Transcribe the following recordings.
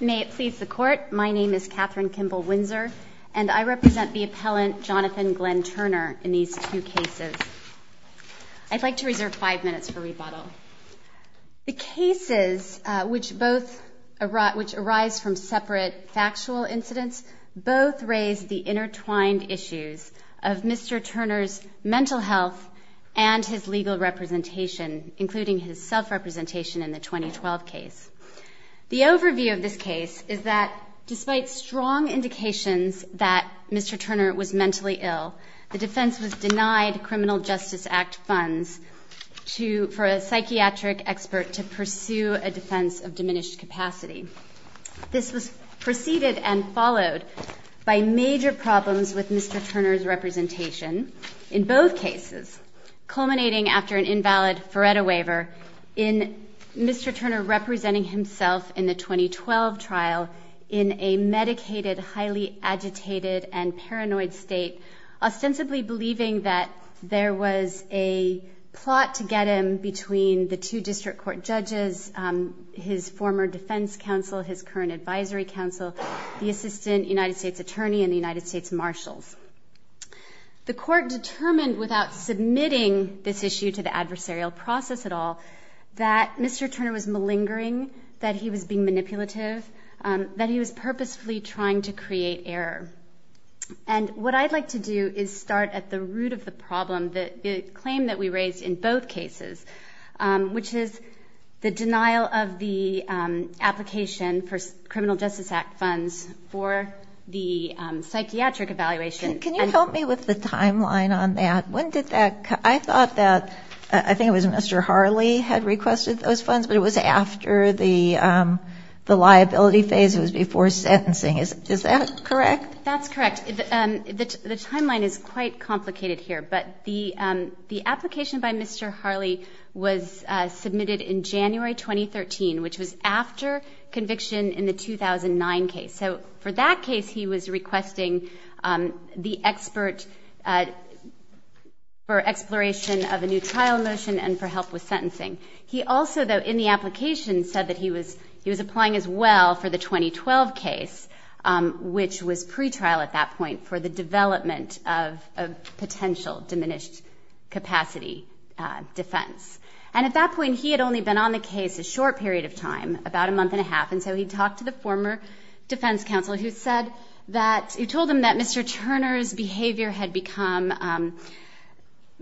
May it please the Court, my name is Kathryn Kimball Windsor, and I represent the appellant Jonathan Glenn Turner in these two cases. I'd like to reserve five minutes for rebuttal. The cases, which arise from separate factual incidents, both raise the intertwined issues of Mr. Turner's mental health and his legal representation, including his self-representation in the 2012 case. The overview of this case is that, despite strong indications that Mr. Turner was mentally ill, the defense was denied Criminal Justice Act funds for a psychiatric expert to pursue a defense of diminished capacity. This was preceded and followed by major problems with Mr. Turner's representation in both cases, culminating after an invalid FREDA waiver in Mr. Turner representing himself in the 2012 trial in a medicated, highly agitated and paranoid state, ostensibly believing that there was a plot to get him between the two district court judges, his former defense counsel, his current advisory counsel, the The court determined, without submitting this issue to the adversarial process at all, that Mr. Turner was malingering, that he was being manipulative, that he was purposefully trying to create error. And what I'd like to do is start at the root of the problem, the claim that we raised in both cases, which is the denial of the application for Criminal Justice Act funds for the psychiatric evaluation. Can you help me with the timeline on that? I thought that, I think it was Mr. Harley had requested those funds, but it was after the liability phase, it was before sentencing. Is that correct? That's correct. The timeline is quite complicated here, but the application by Mr. Harley was for the 2009 case. So for that case, he was requesting the expert for exploration of a new trial motion and for help with sentencing. He also, though, in the application said that he was applying as well for the 2012 case, which was pretrial at that point for the development of a potential diminished capacity defense. And at that point, he had only been on the defense counsel who said that, who told him that Mr. Turner's behavior had become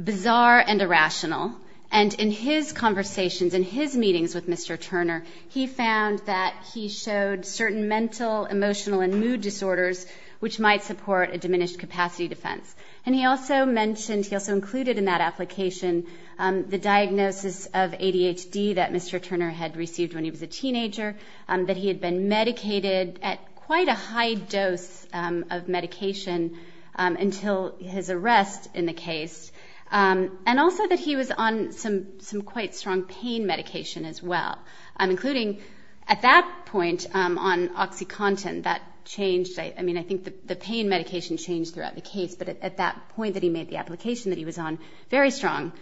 bizarre and irrational. And in his conversations, in his meetings with Mr. Turner, he found that he showed certain mental, emotional, and mood disorders, which might support a diminished capacity defense. And he also mentioned, he also included in that application, the diagnosis of ADHD that Mr. Turner had received when he was a teenager, that he had been medicated at quite a high dose of medication until his arrest in the case, and also that he was on some quite strong pain medication as well, including at that point on OxyContin, that changed, I mean, I think the pain medication changed throughout the case, but at that point that he made the application that he was on very strong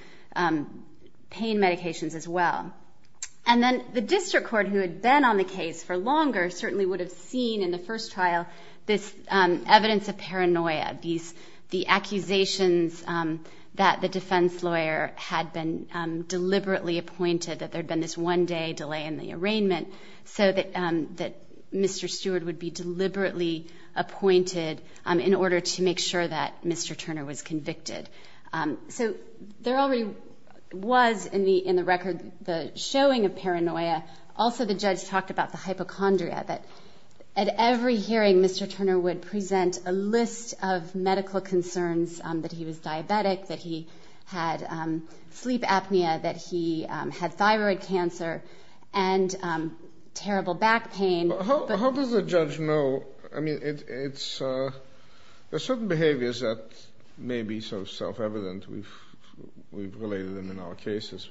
pain medications as well. And then the district court who had been on the case for longer certainly would have seen in the first trial this evidence of paranoia, these, the accusations that the defense lawyer had been deliberately appointed, that there had been this one day delay in the arraignment so that Mr. Stewart would be deliberately appointed in order to make sure that Mr. Turner was convicted. So there already was in the record the showing of paranoia, also the judge talked about the hypochondria, that at every hearing Mr. Turner would present a list of medical concerns, that he was diabetic, that he had sleep apnea, that he had thyroid cancer, and terrible back pain. How does a judge know, I mean, it's, there's certain behaviors that may be so self-evident, we've related them in our cases,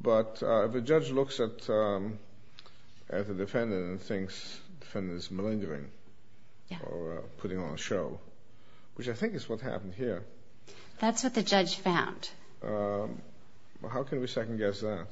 but if a judge looks at a defendant and thinks the defendant is malingering, or putting on a show, which I think is what happened here. That's what the judge found. How can we second guess that?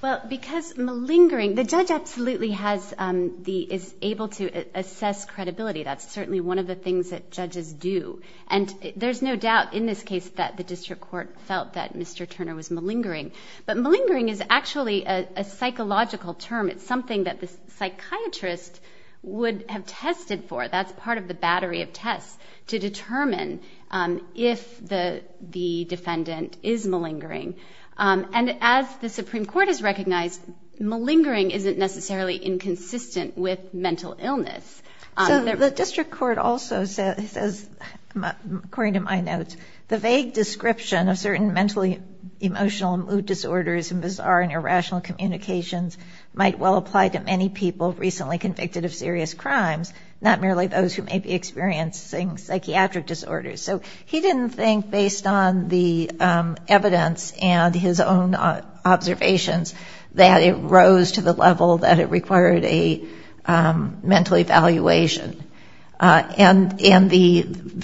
Well, because malingering, the judge absolutely has the, is able to assess credibility, that's certainly one of the things that judges do, and there's no doubt in this case that the district court felt that Mr. Turner was malingering. But malingering is actually a psychological term, it's something that the psychiatrist would have tested for, that's part of the battery of tests, to determine if the defendant is malingering. And as the Supreme Court has recognized, malingering isn't necessarily inconsistent with mental illness. So the district court also says, according to my notes, the vague description of certain mentally emotional mood disorders and bizarre and irrational communications might well apply to many people recently convicted of serious crimes, not merely those who may be experiencing psychiatric disorders. So he didn't think, based on the evidence and his own observations, that it rose to the level that it required a mental evaluation. And the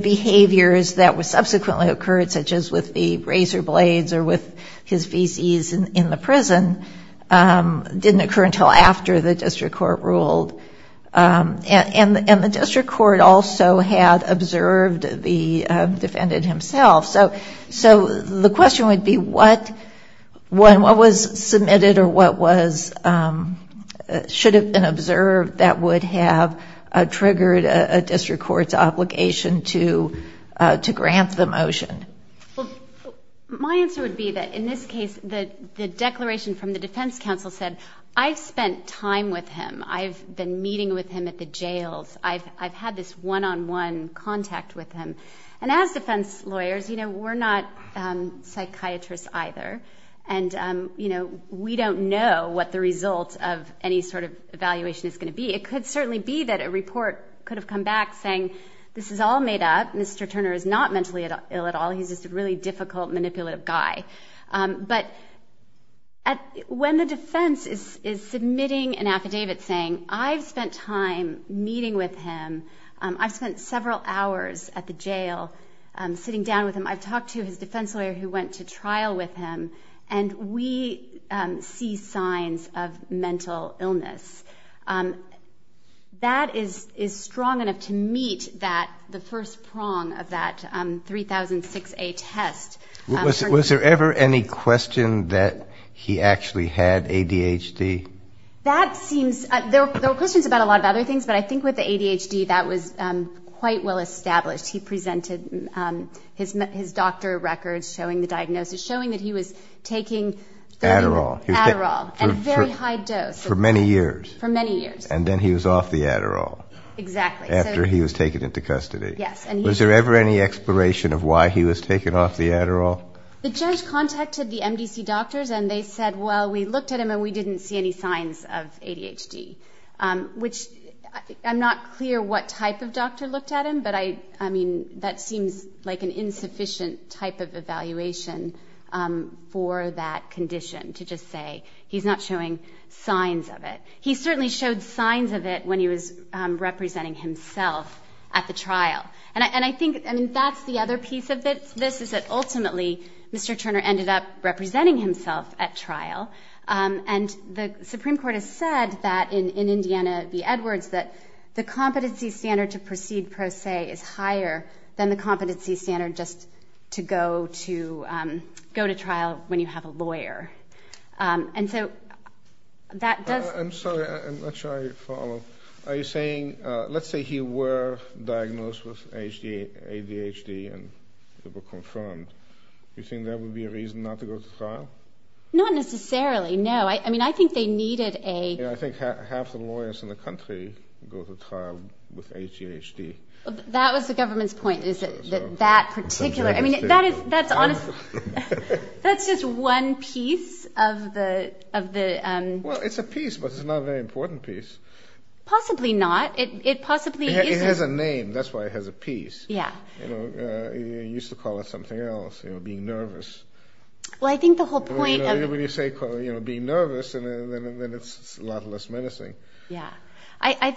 behaviors that subsequently occurred, such as with the razor blades or with his feces in the prison, didn't occur until after the district court ruled. And the district court also had observed the defendant himself. So the question would be, what was submitted or what should have been observed that would have triggered a district court's obligation to grant the motion? Well, my answer would be that in this case, the declaration from the defense counsel said, I've spent time with him. I've been meeting with him at the jails. I've had this one-on-one contact with him. And as defense lawyers, we're not psychiatrists either. And we don't know what the result of any sort of evaluation is going to be. It could certainly be that a report could have come back saying, this is all made up. Mr. Turner is not mentally ill at all. He's just a really difficult, manipulative guy. But when the defense is submitting an affidavit saying, I've spent time meeting with him. I've spent several hours at the jail sitting down with him. I've talked to his defense lawyer who went to trial with him. And we see signs of mental illness. That is strong enough to meet the first prong of that 3006A test. Was there ever any question that he actually had ADHD? There were questions about a lot of other things. But I think with the ADHD, that was quite well established. He presented his doctor records showing the diagnosis, showing that he was taking Adderall at a very high dose. For many years. And then he was off the Adderall. Exactly. After he was taken into custody. Was there ever any exploration of why he was taken off the Adderall? The judge contacted the MDC doctors and they said, well, we looked at him and we didn't see any signs of ADHD. Which I'm not clear what type of doctor looked at him, but I mean, that seems like an insufficient type of evaluation for that condition to just say he's not showing signs of it. He certainly showed signs of it when he was representing himself at the trial. And I think that's the other piece of it. This is that ultimately, Mr. Turner ended up representing himself at trial. And the Supreme Court has said that in Indiana v. Edwards, that the competency standard to proceed pro se is higher than the competency standard just to go to trial when you have a lawyer. And so that does... I'm sorry, I'm not sure I follow. Are you saying, let's say he were diagnosed with ADHD and it was confirmed. Do you think there would be a reason not to go to trial? Not necessarily, no. I mean, I think they needed a... I think half the lawyers in the country go to trial with ADHD. That was the government's point, is that that particular... That's just one piece of the... Well, it's a piece, but it's not a very important piece. Possibly not. It possibly isn't. It has a name. That's why it has a piece. He used to call it something else, being nervous. Well, I think the whole point of... When you say being nervous, then it's a lot less menacing. Yeah. I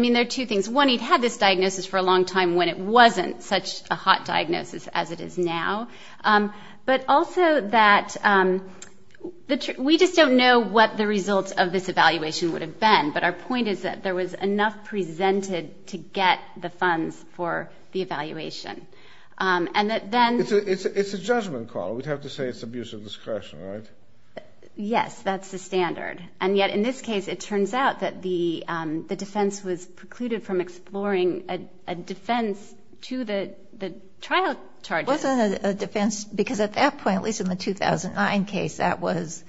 mean, there are two things. One, he'd had this diagnosis for a long time when it wasn't such a hot diagnosis as it is now. But also that we just don't know what the results of this evaluation would have been. But our point is that there was enough presented to get the funds for the evaluation. It's a judgment call. We'd have to say it's abuse of discretion, right? Yes, that's the standard. And yet in this case, it turns out that the defense was precluded from exploring a defense to the trial charges. It wasn't a defense, because at that point, at least in the 2009 case, that was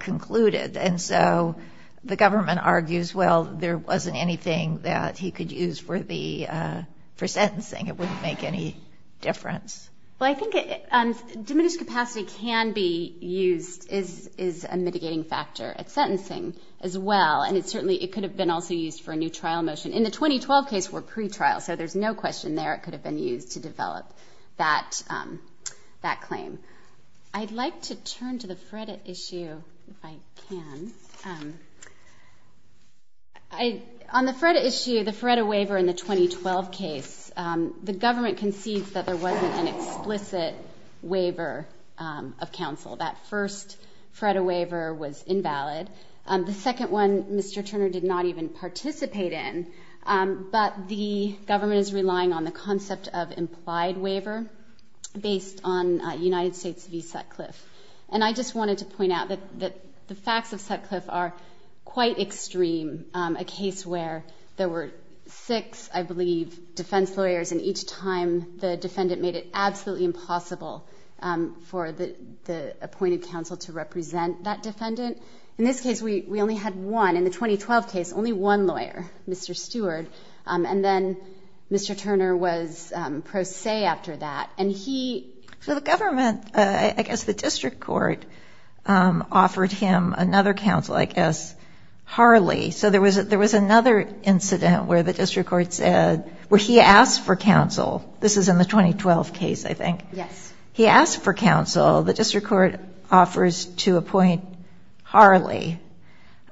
concluded. And so the government argues, well, there wasn't anything that he could use for sentencing. It wouldn't make any difference. Well, I think diminished capacity can be used as a mitigating factor at sentencing as well. And certainly it could have been also used for a new trial motion. In the 2012 case, we're pre-trial, so there's no question there it could have been used to develop that claim. I'd like to turn to the FREDA issue, if I can. On the FREDA issue, the FREDA waiver in the 2012 case, the government concedes that there wasn't an explicit waiver of counsel. That first FREDA waiver was invalid. The second one, Mr. Turner did not even participate in. But the government is relying on the concept of implied waiver based on United States v. Sutcliffe. And I just wanted to point out that the facts of Sutcliffe are quite extreme. A case where there were six, I believe, defense lawyers, and each time the defendant made it absolutely impossible for the appointed counsel to represent that defendant. In this case, we only had one. In the 2012 case, only one lawyer, Mr. Stewart. And then Mr. Turner was pro se after that. So the government, I guess the district court, offered him another counsel, I guess, Harley. So there was another incident where the district court said, where he asked for counsel. This is in the 2012 case, I think. He asked for counsel. The district court offers to appoint Harley.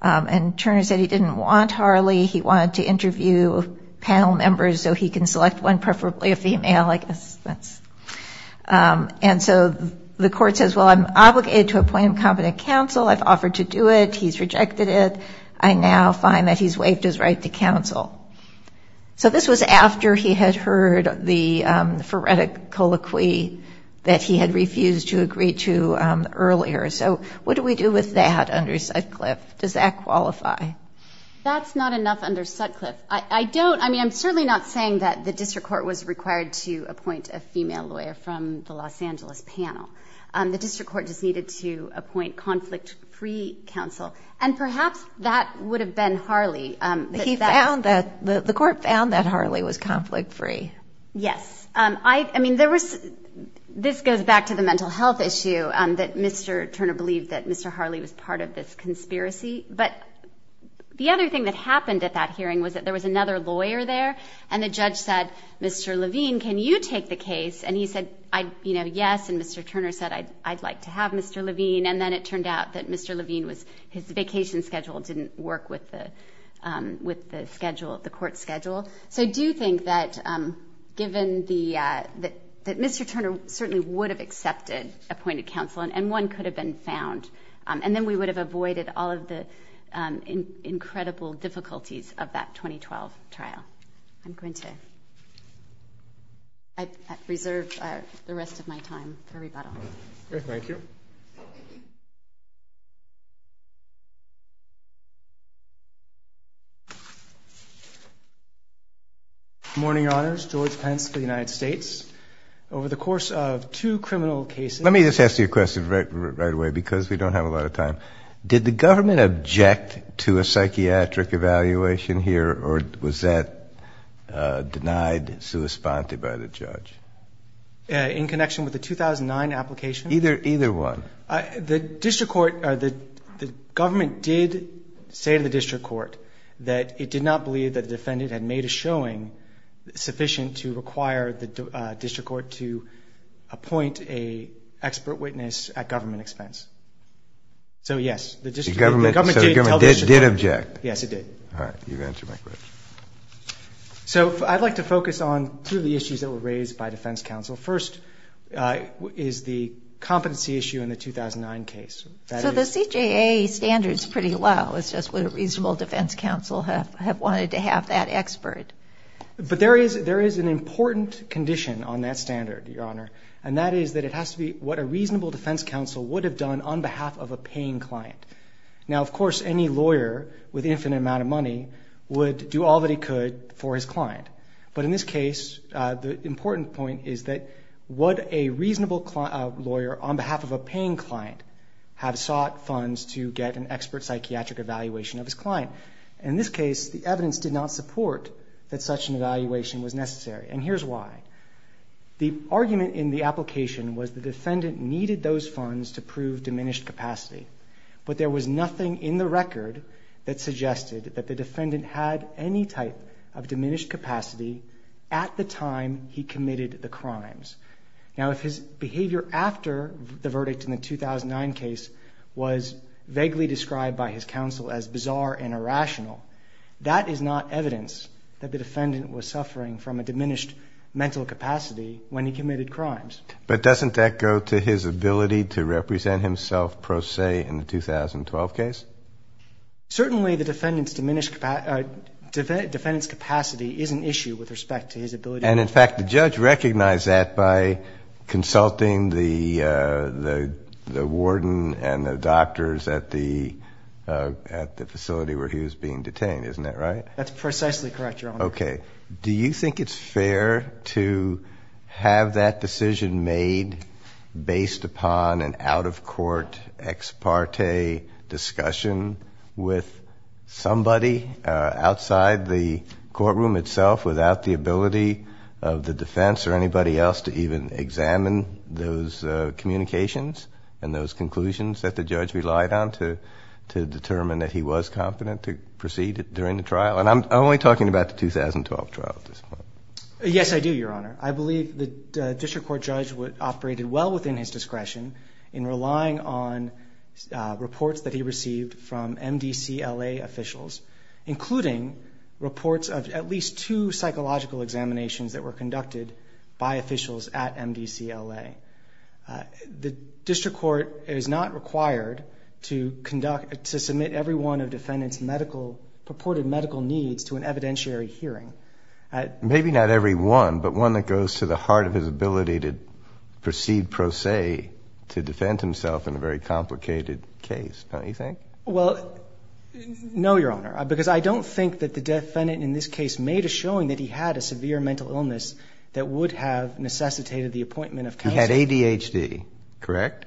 And Turner said he didn't want Harley. He wanted to interview panel members so he can select one, preferably a female, I guess. And so the court says, well, I'm obligated to appoint a competent counsel. I've offered to do it. He's rejected it. I now find that he's waived his right to counsel. So this was after he had heard the phoretic colloquy that he had refused to agree to earlier. So what do we do with that under Sutcliffe? Does that qualify? That's not enough under Sutcliffe. I'm certainly not saying that the district court was required to appoint a female lawyer from the Los Angeles panel. The district court just needed to appoint conflict-free counsel. And perhaps that would have been Harley. The court found that Harley was conflict-free. Yes. This goes back to the mental health issue, that Mr. Turner believed that Mr. Harley was part of this conspiracy. But the other thing that happened at that hearing was that there was another lawyer there, and the judge said, Mr. Levine, can you take the case? And he said, yes, and Mr. Turner said, I'd like to have Mr. Levine. And then it turned out that Mr. Levine, his vacation schedule didn't work with the court schedule. So I do think that given that Mr. Turner certainly would have accepted appointed counsel and one could have been found, and then we would have avoided all of the incredible difficulties of that 2012 trial. I'm going to reserve the rest of my time for rebuttal. Thank you. Good morning, Your Honors. George Pence for the United States. Over the course of two criminal cases Let me just ask you a question right away because we don't have a lot of time. Did the government object to a psychiatric evaluation here, or was that denied sui sponte by the judge? In connection with the 2009 application? Either one. The district court, the government did say to the district court that it did not believe that the defendant had made a showing of a psychiatric evaluation. So the government did object? Yes, it did. So I'd like to focus on two of the issues that were raised by defense counsel. First is the competency issue in the 2009 case. So the CJA standard's pretty low, it's just what a reasonable defense counsel have wanted to have that expert. But there is an important condition on that standard, Your Honor, and that is that it has to be what a reasonable defense counsel would have done on behalf of a paying client. Now, of course, any lawyer with infinite amount of money would do all that he could for his client. But in this case, the important point is that what a reasonable lawyer on behalf of a paying client has to do is have sought funds to get an expert psychiatric evaluation of his client. In this case, the evidence did not support that such an evaluation was necessary, and here's why. The argument in the application was the defendant needed those funds to prove diminished capacity, but there was nothing in the record that suggested that the defendant had any type of diminished capacity at the time he committed the crimes. Now, if his behavior after the verdict in the 2009 case was vaguely described by his counsel as bizarre and irrational, that is not evidence that the defendant was suffering from a diminished mental capacity when he committed crimes. But doesn't that go to his ability to represent himself pro se in the 2012 case? Certainly the defendant's diminished capacity is an issue with respect to his ability to represent himself. And, in fact, the judge recognized that by consulting the warden and the doctors at the facility where he was being detained, isn't that right? That's precisely correct, Your Honor. Okay. Do you think it's fair to have that decision made based upon an out-of-court ex parte discussion with somebody outside the courtroom itself without the ability of the defense or anybody else to even examine those communications and those conclusions that the judge relied on to determine that he was confident to proceed during the trial? And I'm only talking about the 2012 trial at this point. Yes, I do, Your Honor. I believe the district court judge operated well within his discretion in relying on reports that he received from MDCLA officials, including reports of at least two psychological examinations that were conducted by officials at MDCLA. The district court is not required to conduct, to submit every one of the defendant's medical, purported medical needs to an evidentiary hearing. Maybe not every one, but one that goes to the heart of his ability to proceed pro se to defend himself in a very complicated case, don't you think? Well, no, Your Honor, because I don't think that the defendant in this case made a showing that he had a severe mental illness because he had ADHD, correct?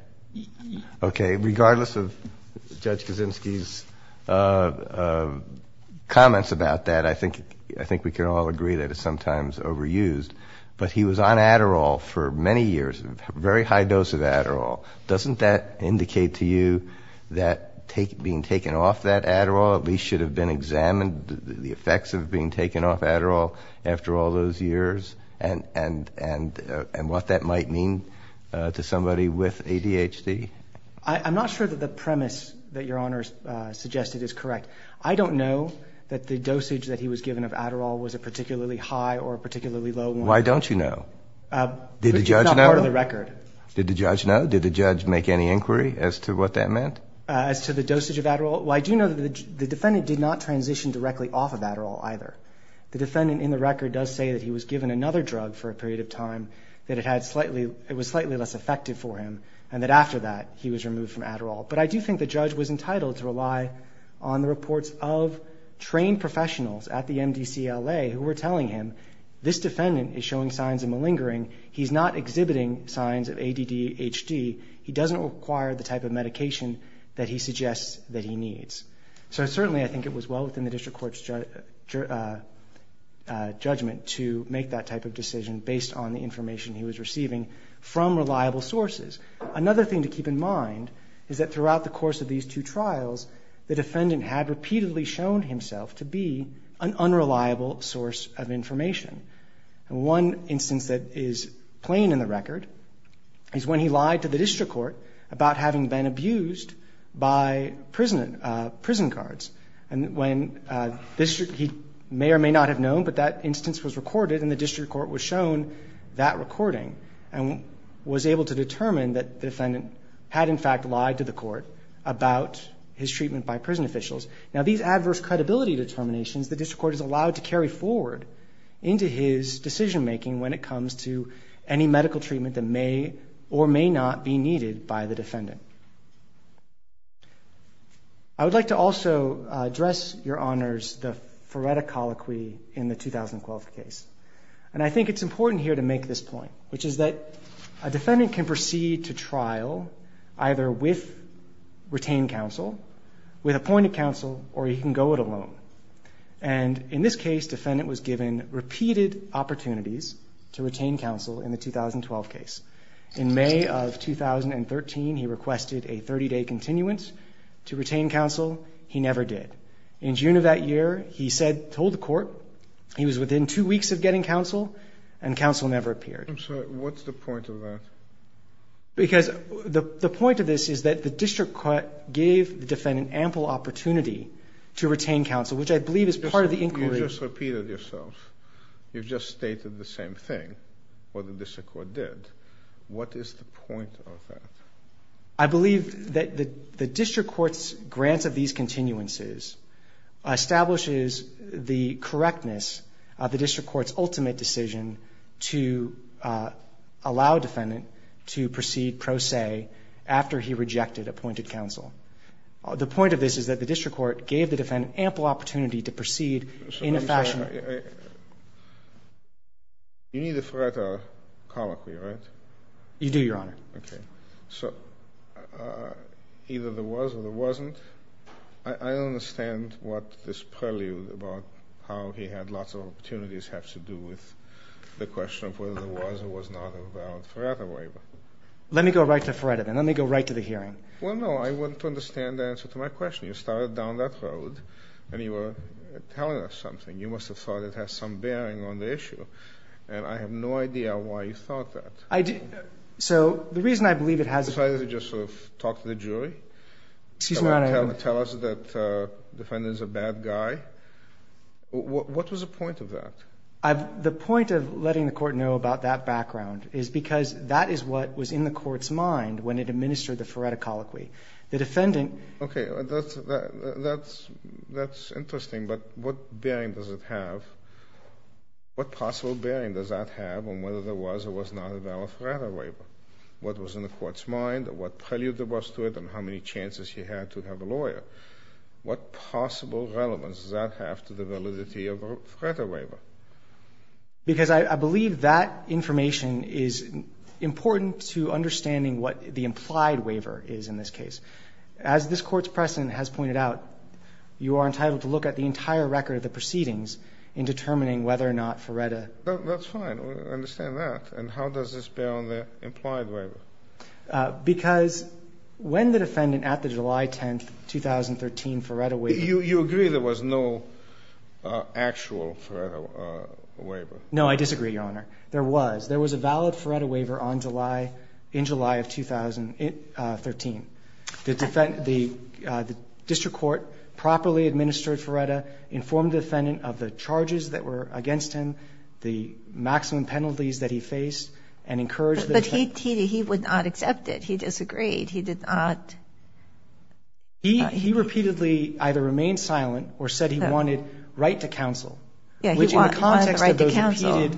Okay, regardless of Judge Kaczynski's comments about that, I think we can all agree that it's sometimes overused. But he was on Adderall for many years, a very high dose of Adderall. Doesn't that indicate to you that being taken off that Adderall at least should have been examined, the effects of being taken to somebody with ADHD? I'm not sure that the premise that Your Honor suggested is correct. I don't know that the dosage that he was given of Adderall was a particularly high or a particularly low one. Why don't you know? Did the judge know? I do know that the defendant did not transition directly off of Adderall either. The defendant in the record does say that he was given another drug for a period of time, that it was slightly less effective for him, and that after that he was removed from Adderall. But I do think the judge was entitled to rely on the reports of trained professionals at the MDCLA who were telling him, this defendant is showing signs of malingering. He's not exhibiting signs of ADDHD. He doesn't require the type of medication that he suggests that he needs. So certainly I think it was well within the District Court's judgment to make that type of decision based on the information he was receiving from reliable sources. Another thing to keep in mind is that throughout the course of these two trials, the defendant had repeatedly shown himself to be an unreliable source of information. One instance that is plain in the record is when he lied to the District Court about having been abused by prison guards. He may or may not have known, but that instance was recorded and the District Court was shown that recording and was able to determine that the defendant had in fact lied to the court about his treatment by prison officials. Now, these adverse credibility determinations, the District Court is allowed to carry forward into his decision-making when it comes to any medical treatment that may or may not be needed by the defendant. I would like to also address, Your Honors, the Feretta Colloquy in the 2012 case. And I think it's important here to make this point, which is that a defendant can proceed to trial either with appointed counsel or he can go it alone. And in this case, defendant was given repeated opportunities to retain counsel in the 2012 case. In May of 2013, he requested a 30-day continuance to retain counsel. He never did. In June of that year, he told the court he was within two weeks of getting counsel and counsel never appeared. I'm sorry, what's the point of that? Because the point of this is that the District Court gave the defendant ample opportunity to retain counsel, which I believe is part of the inquiry. You've just repeated yourself. You've just stated the same thing, what the District Court did. What is the point of that? I believe that the District Court's grant of these continuances establishes the correctness of the District Court's ultimate decision to allow a defendant to proceed pro se after he rejected appointed counsel. The point of this is that the District Court gave the defendant ample opportunity to proceed in a fashion. You need the Feretta Colloquy, right? You do, Your Honor. Okay. So either there was or there wasn't. I don't understand what this prelude about how he had lots of opportunities has to do with the question of whether there was or was not a valid Feretta waiver. Let me go right to Feretta, then. Let me go right to the hearing. Well, no, I want to understand the answer to my question. You started down that road and you were telling us something. You must have thought it had some bearing on the issue. And I have no idea why you thought that. So the reason I believe it has a bearing on the issue is because that is what was in the court's mind when it administered the Feretta Colloquy. The defendant — Okay. That's interesting, but what bearing does it have? What possible bearing does that have on whether there was or was not a valid Feretta waiver? What was in the court's mind, what prelude there was to it, and how many chances he had to have a lawyer? What possible relevance does that have to the validity of a Feretta waiver? Because I believe that information is important to understanding what the implied waiver is in this case. As this Court's precedent has pointed out, you are entitled to look at the entire record of the proceedings in determining whether or not Feretta — That's fine. I understand that. And how does this bear on the implied waiver? You agree there was no actual Feretta waiver? No, I disagree, Your Honor. There was. There was a valid Feretta waiver on July — in July of 2013. The district court properly administered Feretta, informed the defendant of the charges that were against him, the maximum penalties that he faced, and encouraged the defendant But he would not accept it. He disagreed. He did not. He repeatedly either remained silent or said he wanted right to counsel. Yeah, he wanted the right to counsel.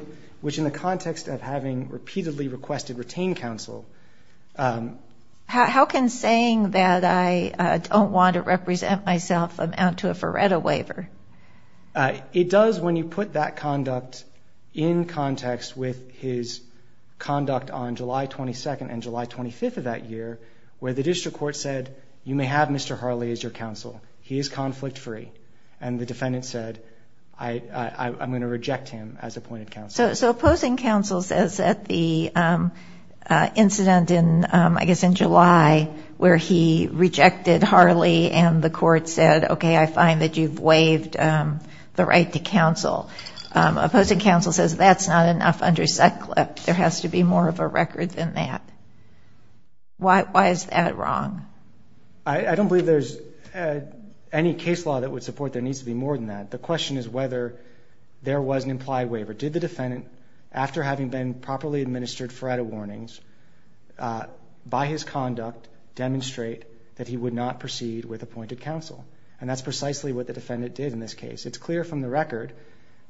Which in the context of having repeatedly requested retained counsel — How can saying that I don't want to represent myself amount to a Feretta waiver? It does when you put that conduct in context with his conduct on July 22nd and July 25th of that year, where the district court said, You may have Mr. Harley as your counsel. He is conflict-free. And the defendant said, I'm going to reject him as appointed counsel. So opposing counsel says that the incident in, I guess, in July where he rejected Harley and the court said, Okay, I find that you've waived the right to counsel. Opposing counsel says that's not enough under Sutcliffe. There has to be more of a record than that. Why is that wrong? I don't believe there's any case law that would support there needs to be more than that. The question is whether there was an implied waiver. Did the defendant, after having been properly administered Feretta warnings by his conduct, demonstrate that he would not proceed with appointed counsel? And that's precisely what the defendant did in this case. It's clear from the record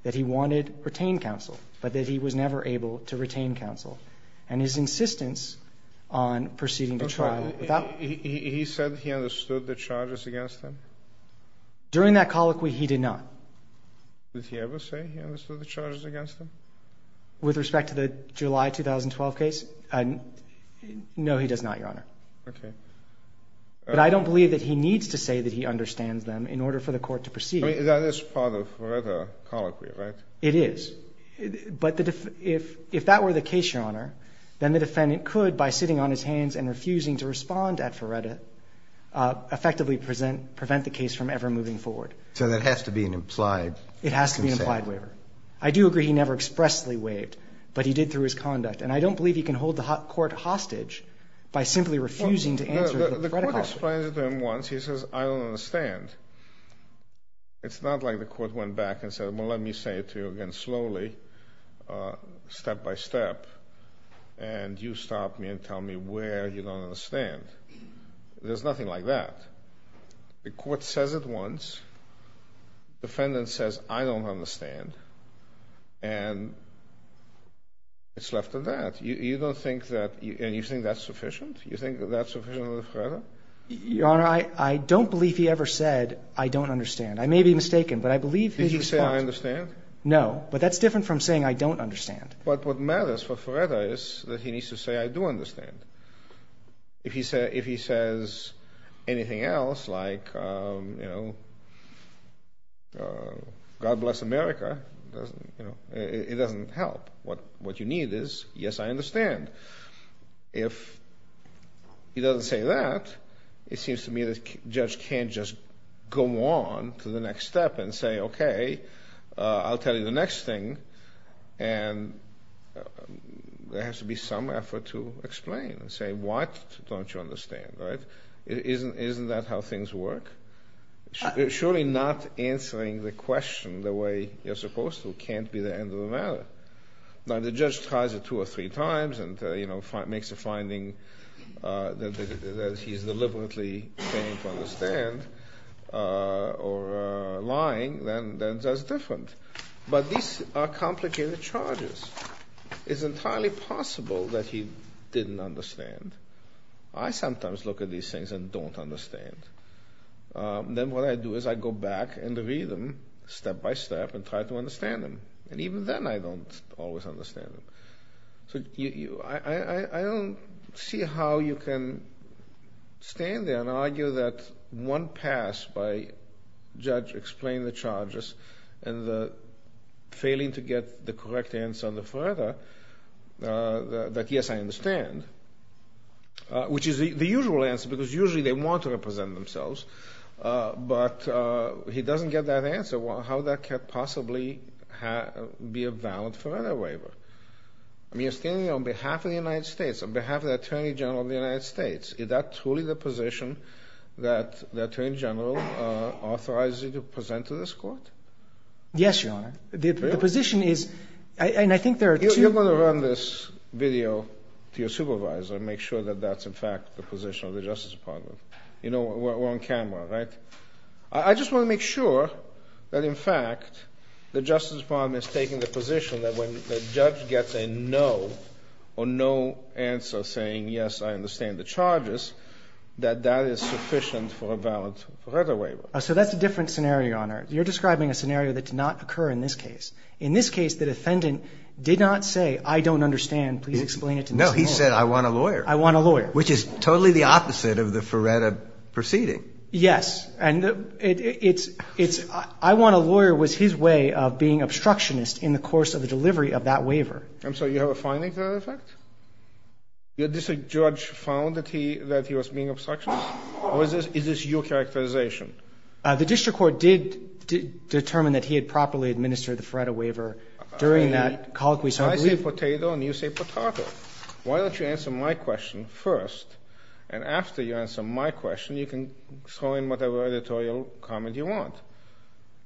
that he wanted retained counsel, but that he was never able to retain counsel. And his insistence on proceeding to trial without. He said he understood the charges against him? During that colloquy, he did not. Did he ever say he understood the charges against him? With respect to the July 2012 case? No, he does not, Your Honor. Okay. But I don't believe that he needs to say that he understands them in order for the court to proceed. I mean, that is part of Feretta colloquy, right? It is. But if that were the case, Your Honor, then the defendant could, by sitting on his hands and refusing to respond at Feretta, effectively prevent the case from ever moving forward. So there has to be an implied consent? It has to be an implied waiver. I do agree he never expressly waived, but he did through his conduct. And I don't believe he can hold the court hostage by simply refusing to answer the Feretta colloquy. The court explains it to him once. He says, I don't understand. It's not like the court went back and said, well, let me say it to you again slowly, step-by-step, and you stop me and tell me where you don't understand. There's nothing like that. The court says it once. The defendant says, I don't understand. And it's left to that. You don't think that, and you think that's sufficient? You think that's sufficient under Feretta? Your Honor, I don't believe he ever said, I don't understand. I may be mistaken, but I believe his response. Did he say, I understand? No, but that's different from saying, I don't understand. But what matters for Feretta is that he needs to say, I do understand. If he says anything else, like, you know, God bless America, it doesn't help. What you need is, yes, I understand. If he doesn't say that, it seems to me the judge can't just go on to the next step and say, okay, I'll tell you the next thing, and there has to be some effort to explain and say, what don't you understand? Isn't that how things work? Surely not answering the question the way you're supposed to can't be the end of the matter. Now, if the judge tries it two or three times and, you know, makes a finding that he's deliberately failing to understand or lying, then that's different. But these are complicated charges. It's entirely possible that he didn't understand. I sometimes look at these things and don't understand. Then what I do is I go back and read them step by step and try to understand them. And even then I don't always understand them. So I don't see how you can stand there and argue that one pass by judge explain the charges and the failing to get the correct answer on the further that, yes, I understand, which is the usual answer because usually they want to represent themselves, but he doesn't get that answer. How that could possibly be a valid further waiver? I mean, you're standing on behalf of the United States, on behalf of the Attorney General of the United States. Is that truly the position that the Attorney General authorizes you to present to this court? Yes, Your Honor. The position is, and I think there are two— You're going to run this video to your supervisor and make sure that that's, in fact, the position of the Justice Department. You know, we're on camera, right? I just want to make sure that, in fact, the Justice Department is taking the position that when the judge gets a no or no answer saying, yes, I understand the charges, that that is sufficient for a valid further waiver. So that's a different scenario, Your Honor. You're describing a scenario that did not occur in this case. In this case, the defendant did not say, I don't understand, please explain it to this court. No, he said, I want a lawyer. I want a lawyer. Which is totally the opposite of the Feretta proceeding. Yes. And it's, it's, I want a lawyer was his way of being obstructionist in the course of the delivery of that waiver. I'm sorry. You have a finding to that effect? Your district judge found that he, that he was being obstructionist? Or is this, is this your characterization? The district court did determine that he had properly administered the Feretta waiver during that colloquy, so I believe— And after you answer my question, you can throw in whatever editorial comment you want.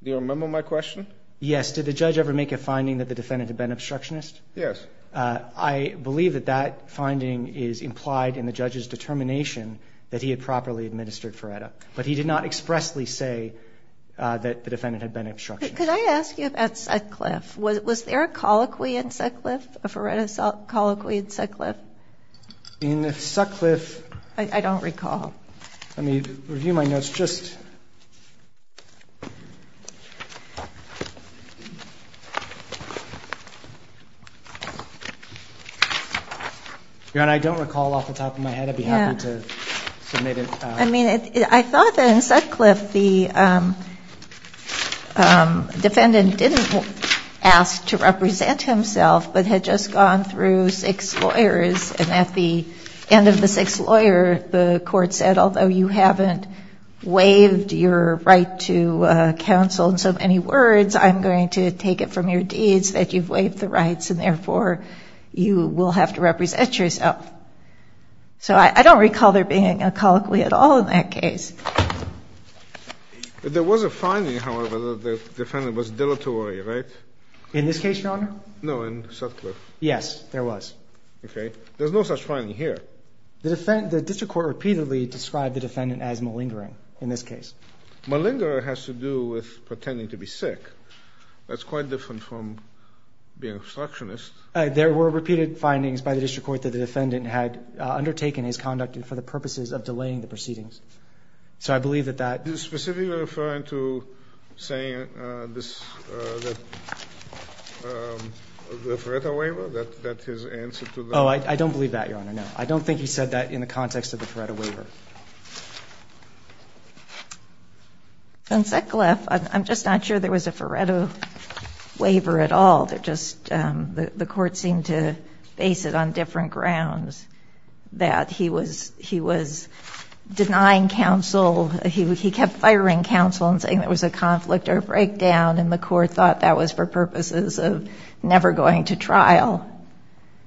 Do you remember my question? Yes. Did the judge ever make a finding that the defendant had been obstructionist? Yes. I believe that that finding is implied in the judge's determination that he had properly administered Feretta. But he did not expressly say that the defendant had been obstructionist. Could I ask you about Sutcliffe? Was there a colloquy in Sutcliffe, a Feretta colloquy in Sutcliffe? In Sutcliffe— I don't recall. Let me review my notes. Just— Your Honor, I don't recall off the top of my head. I'd be happy to submit it. I mean, I thought that in Sutcliffe, the defendant didn't ask to represent himself, but had just gone through six lawyers. And at the end of the sixth lawyer, the court said, although you haven't waived your right to counsel in so many words, I'm going to take it from your deeds that you've waived the rights, and therefore, you will have to represent yourself. So I don't recall there being a colloquy at all in that case. There was a finding, however, that the defendant was deleterious, right? In this case, Your Honor? No, in Sutcliffe. Yes, there was. Okay. There's no such finding here. The district court repeatedly described the defendant as malingering in this case. Malingering has to do with pretending to be sick. That's quite different from being obstructionist. There were repeated findings by the district court that the defendant had undertaken his conduct for the purposes of delaying the proceedings. So I believe that that — Do you specifically refer to saying that the Feretta waiver, that his answer to the — Oh, I don't believe that, Your Honor, no. I don't think he said that in the context of the Feretta waiver. In Sutcliffe, I'm just not sure there was a Feretta waiver at all. There just — the court seemed to base it on different grounds, that he was denying counsel. He kept firing counsel and saying there was a conflict or a breakdown, and the court thought that was for purposes of never going to trial.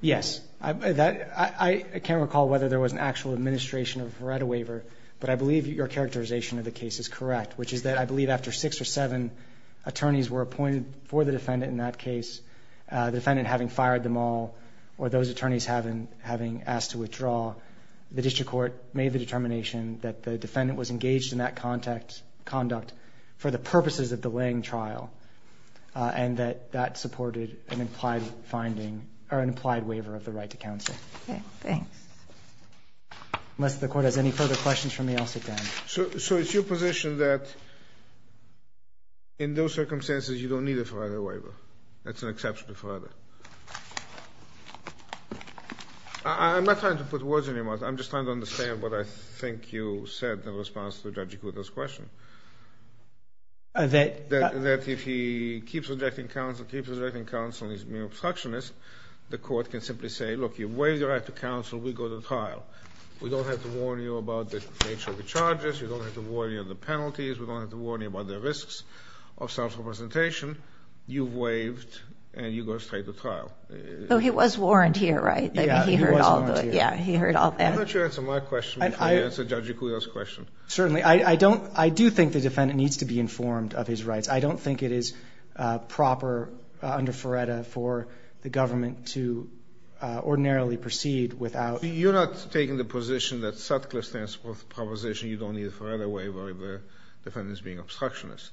Yes. I can't recall whether there was an actual administration of a Feretta waiver, but I believe your characterization of the case is correct, which is that I believe after six or seven attorneys were appointed for the defendant in that case, the defendant having fired them all or those attorneys having asked to withdraw, the district court made the determination that the defendant was engaged in that conduct for the purposes of delaying trial, and that that supported an implied finding or an implied waiver of the right to counsel. Okay. Thanks. Unless the court has any further questions for me, I'll sit down. So it's your position that in those circumstances you don't need a Feretta waiver? That's an exceptional Feretta? I'm not trying to put words on your mouth. I'm just trying to understand what I think you said in response to Judge Agudo's question. That if he keeps rejecting counsel, keeps rejecting counsel and is mere obstructionist, the court can simply say, look, you waived your right to counsel, we go to trial. We don't have to warn you about the nature of the charges. We don't have to warn you of the penalties. We don't have to warn you about the risks of self-representation. You waived, and you go straight to trial. So he was warned here, right? Yeah, he was warned here. Yeah, he heard all that. Why don't you answer my question before you answer Judge Agudo's question? Certainly. I do think the defendant needs to be informed of his rights. I don't think it is proper under Feretta for the government to ordinarily proceed without. You're not taking the position that Sutcliffe stands for the proposition you don't need a Feretta waiver if the defendant is being obstructionist?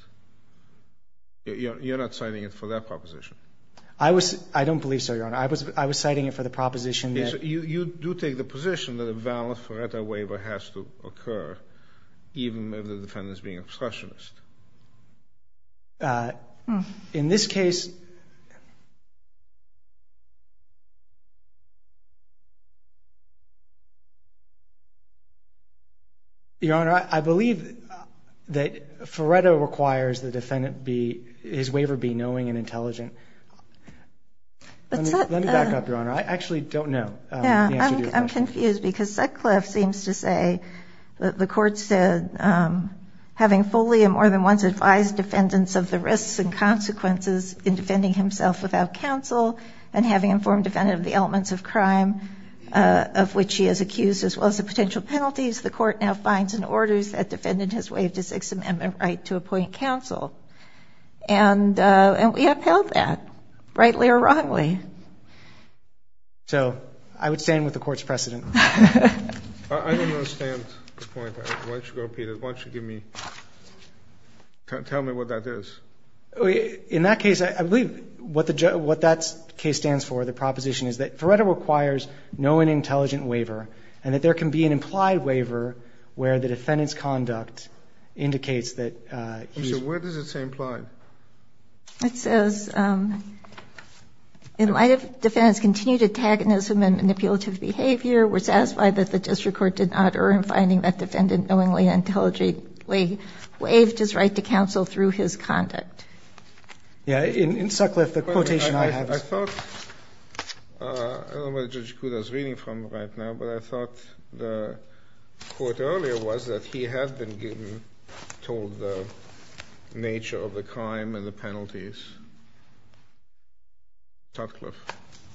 You're not citing it for that proposition? I don't believe so, Your Honor. I was citing it for the proposition that. You do take the position that a valid Feretta waiver has to occur, even if the defendant is being obstructionist. In this case, Your Honor, I believe that Feretta requires the defendant be, his waiver be knowing and intelligent. Let me back up, Your Honor. I actually don't know the answer to your question. I'm confused because Sutcliffe seems to say that the court said, having fully and more than once advised defendants of the risks and consequences in defending himself without counsel and having informed a defendant of the elements of crime of which he is accused as well as the potential penalties, the court now finds in orders that defendant has waived a Sixth Amendment right to appoint counsel. And we have held that, rightly or wrongly. So I would stand with the Court's precedent. I don't understand the point. Why don't you repeat it? Why don't you give me, tell me what that is. In that case, I believe what that case stands for, the proposition is that Feretta requires knowing and intelligent waiver and that there can be an implied waiver where the defendant's conduct indicates that he's... So where does it say implied? It says, in light of defendant's continued antagonism and manipulative behavior, we're satisfied that the district court did not err in finding that defendant knowingly and intelligently waived his right to counsel through his conduct. In Sutcliffe, the quotation I have is... I thought, I don't know where Judge Cuda is reading from right now, but I thought the quote earlier was that he had been given, told the nature of the crime and the penalties. Sutcliffe.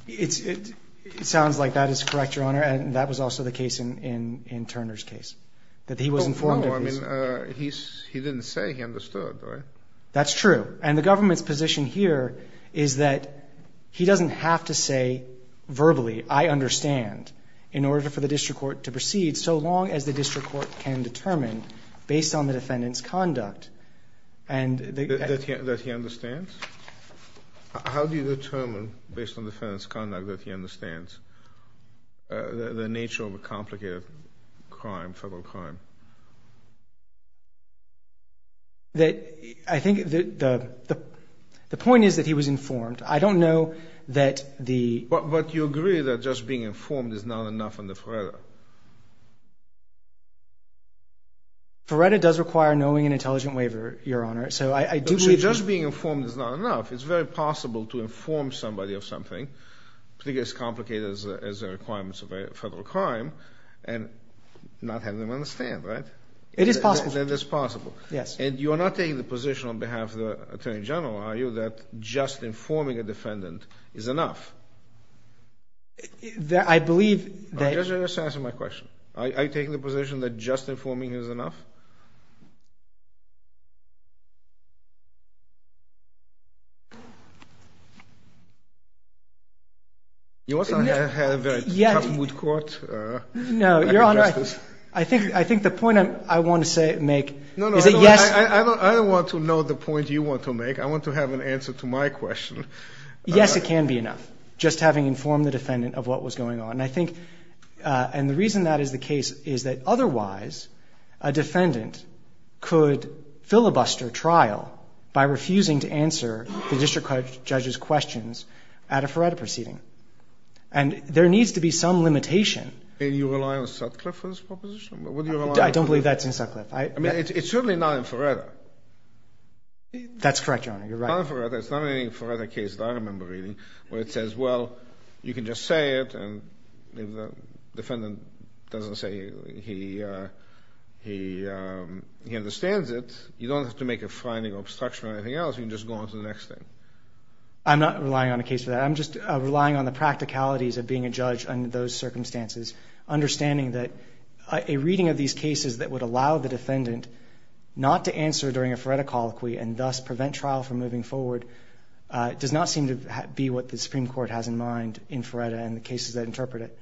It sounds like that is correct, Your Honor, and that was also the case in Turner's case, that he was informed of his... No, I mean, he didn't say he understood, right? That's true. And the government's position here is that he doesn't have to say verbally, I understand, in order for the district court to proceed, so long as the district court can determine based on the defendant's conduct. That he understands? How do you determine, based on the defendant's conduct, that he understands the nature of a complicated crime, federal crime? I think the point is that he was informed. I don't know that the... But you agree that just being informed is not enough under FRERDA? FRERDA does require knowing an intelligent waiver, Your Honor, so I do agree. So just being informed is not enough. It's very possible to inform somebody of something, particularly as complicated as the requirements of a federal crime, and not have them understand, right? It is possible. It is possible. Yes. And you are not taking the position on behalf of the Attorney General, are you, that just informing a defendant is enough? I believe that... Just answer my question. Are you taking the position that just informing is enough? You also have a very tough moot court. No, Your Honor, I think the point I want to make is that yes... I don't want to know the point you want to make. I want to have an answer to my question. Yes, it can be enough, just having informed the defendant of what was going on. And I think the reason that is the case is that otherwise a defendant could filibuster trial by refusing to answer the district judge's questions at a FRERDA proceeding. And there needs to be some limitation. Do you rely on Sutcliffe for this proposition? I don't believe that's in Sutcliffe. I mean, it's certainly not in FRERDA. That's correct, Your Honor, you're right. It's not in any FRERDA case that I remember reading where it says, well, you can just say it and the defendant doesn't say he understands it. You don't have to make a finding or obstruction or anything else. You can just go on to the next thing. I'm not relying on a case for that. I'm just relying on the practicalities of being a judge under those circumstances, understanding that a reading of these cases that would allow the defendant not to answer during a FRERDA colloquy and thus prevent trial from moving forward does not seem to be what the Supreme Court has in mind in FRERDA and the cases that interpret it.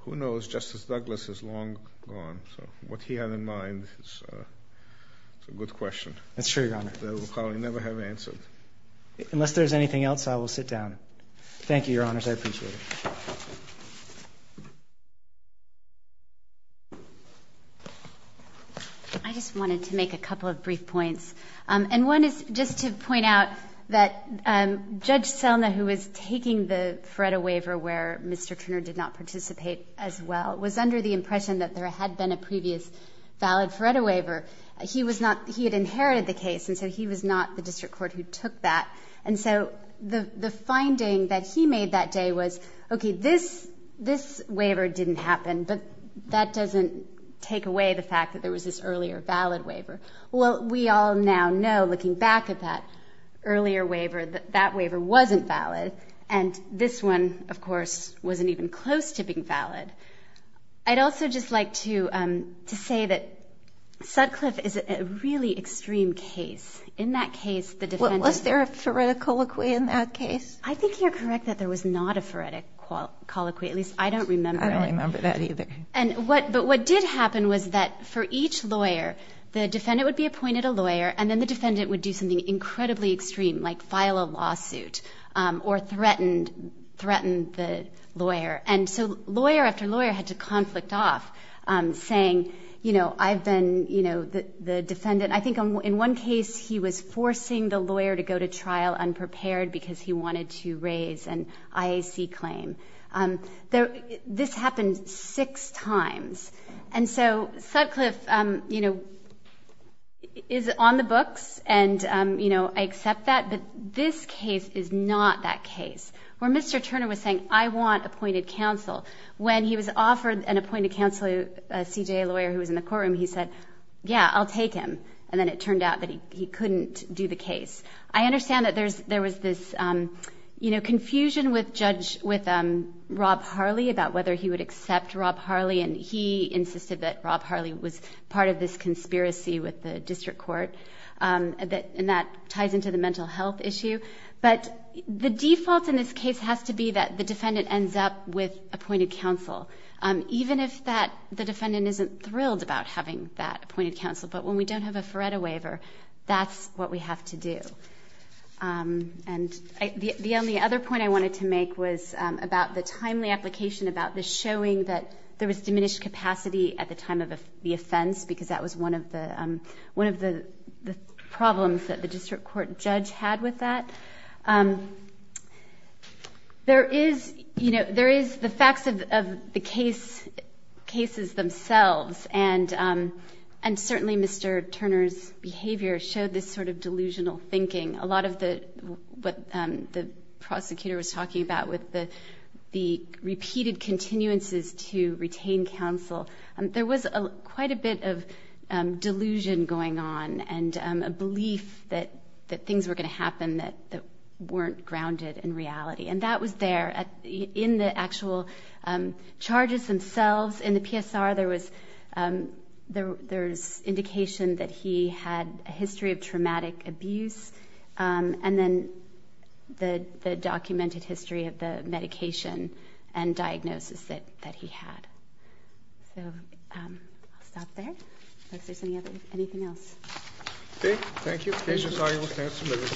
Who knows? Justice Douglas is long gone, so what he had in mind is a good question. That's true, Your Honor. That we'll probably never have answered. Unless there's anything else, I will sit down. Thank you, Your Honors. I appreciate it. I just wanted to make a couple of brief points. One is just to point out that Judge Selma, who was taking the FRERDA waiver where Mr. Turner did not participate as well, was under the impression that there had been a previous valid FRERDA waiver. He had inherited the case, and so he was not the district court who took that. And so the finding that he made that day was, okay, this waiver didn't happen, but that doesn't take away the fact that there was this earlier valid waiver. Well, we all now know, looking back at that earlier waiver, that that waiver wasn't valid. And this one, of course, wasn't even close to being valid. I'd also just like to say that Sutcliffe is a really extreme case. Was there a FRERDA colloquy in that case? I think you're correct that there was not a FRERDA colloquy. At least I don't remember it. I don't remember that either. But what did happen was that for each lawyer, the defendant would be appointed a lawyer, and then the defendant would do something incredibly extreme, like file a lawsuit or threaten the lawyer. And so lawyer after lawyer had to conflict off, saying, you know, I've been the defendant. I think in one case he was forcing the lawyer to go to trial unprepared because he wanted to raise an IAC claim. This happened six times. And so Sutcliffe, you know, is on the books, and, you know, I accept that. But this case is not that case. Where Mr. Turner was saying, I want appointed counsel, when he was offered an appointed counsel, a CJA lawyer who was in the courtroom, he said, yeah, I'll take him. And then it turned out that he couldn't do the case. I understand that there was this, you know, confusion with Rob Harley about whether he would accept Rob Harley, and he insisted that Rob Harley was part of this conspiracy with the district court, and that ties into the mental health issue. But the default in this case has to be that the defendant ends up with appointed counsel, even if the defendant isn't thrilled about having that appointed counsel. But when we don't have a Feretta waiver, that's what we have to do. And the only other point I wanted to make was about the timely application about this showing that there was diminished capacity at the time of the offense because that was one of the problems that the district court judge had with that. There is, you know, there is the facts of the cases themselves, and certainly Mr. Turner's behavior showed this sort of delusional thinking. A lot of what the prosecutor was talking about with the repeated continuances to retain counsel, there was quite a bit of delusion going on and a belief that things were going to happen that weren't grounded in reality, and that was there in the actual charges themselves. In the PSR, there was indication that he had a history of traumatic abuse, and then the documented history of the medication and diagnosis that he had. So I'll stop there. If there's anything else. Okay. Thank you.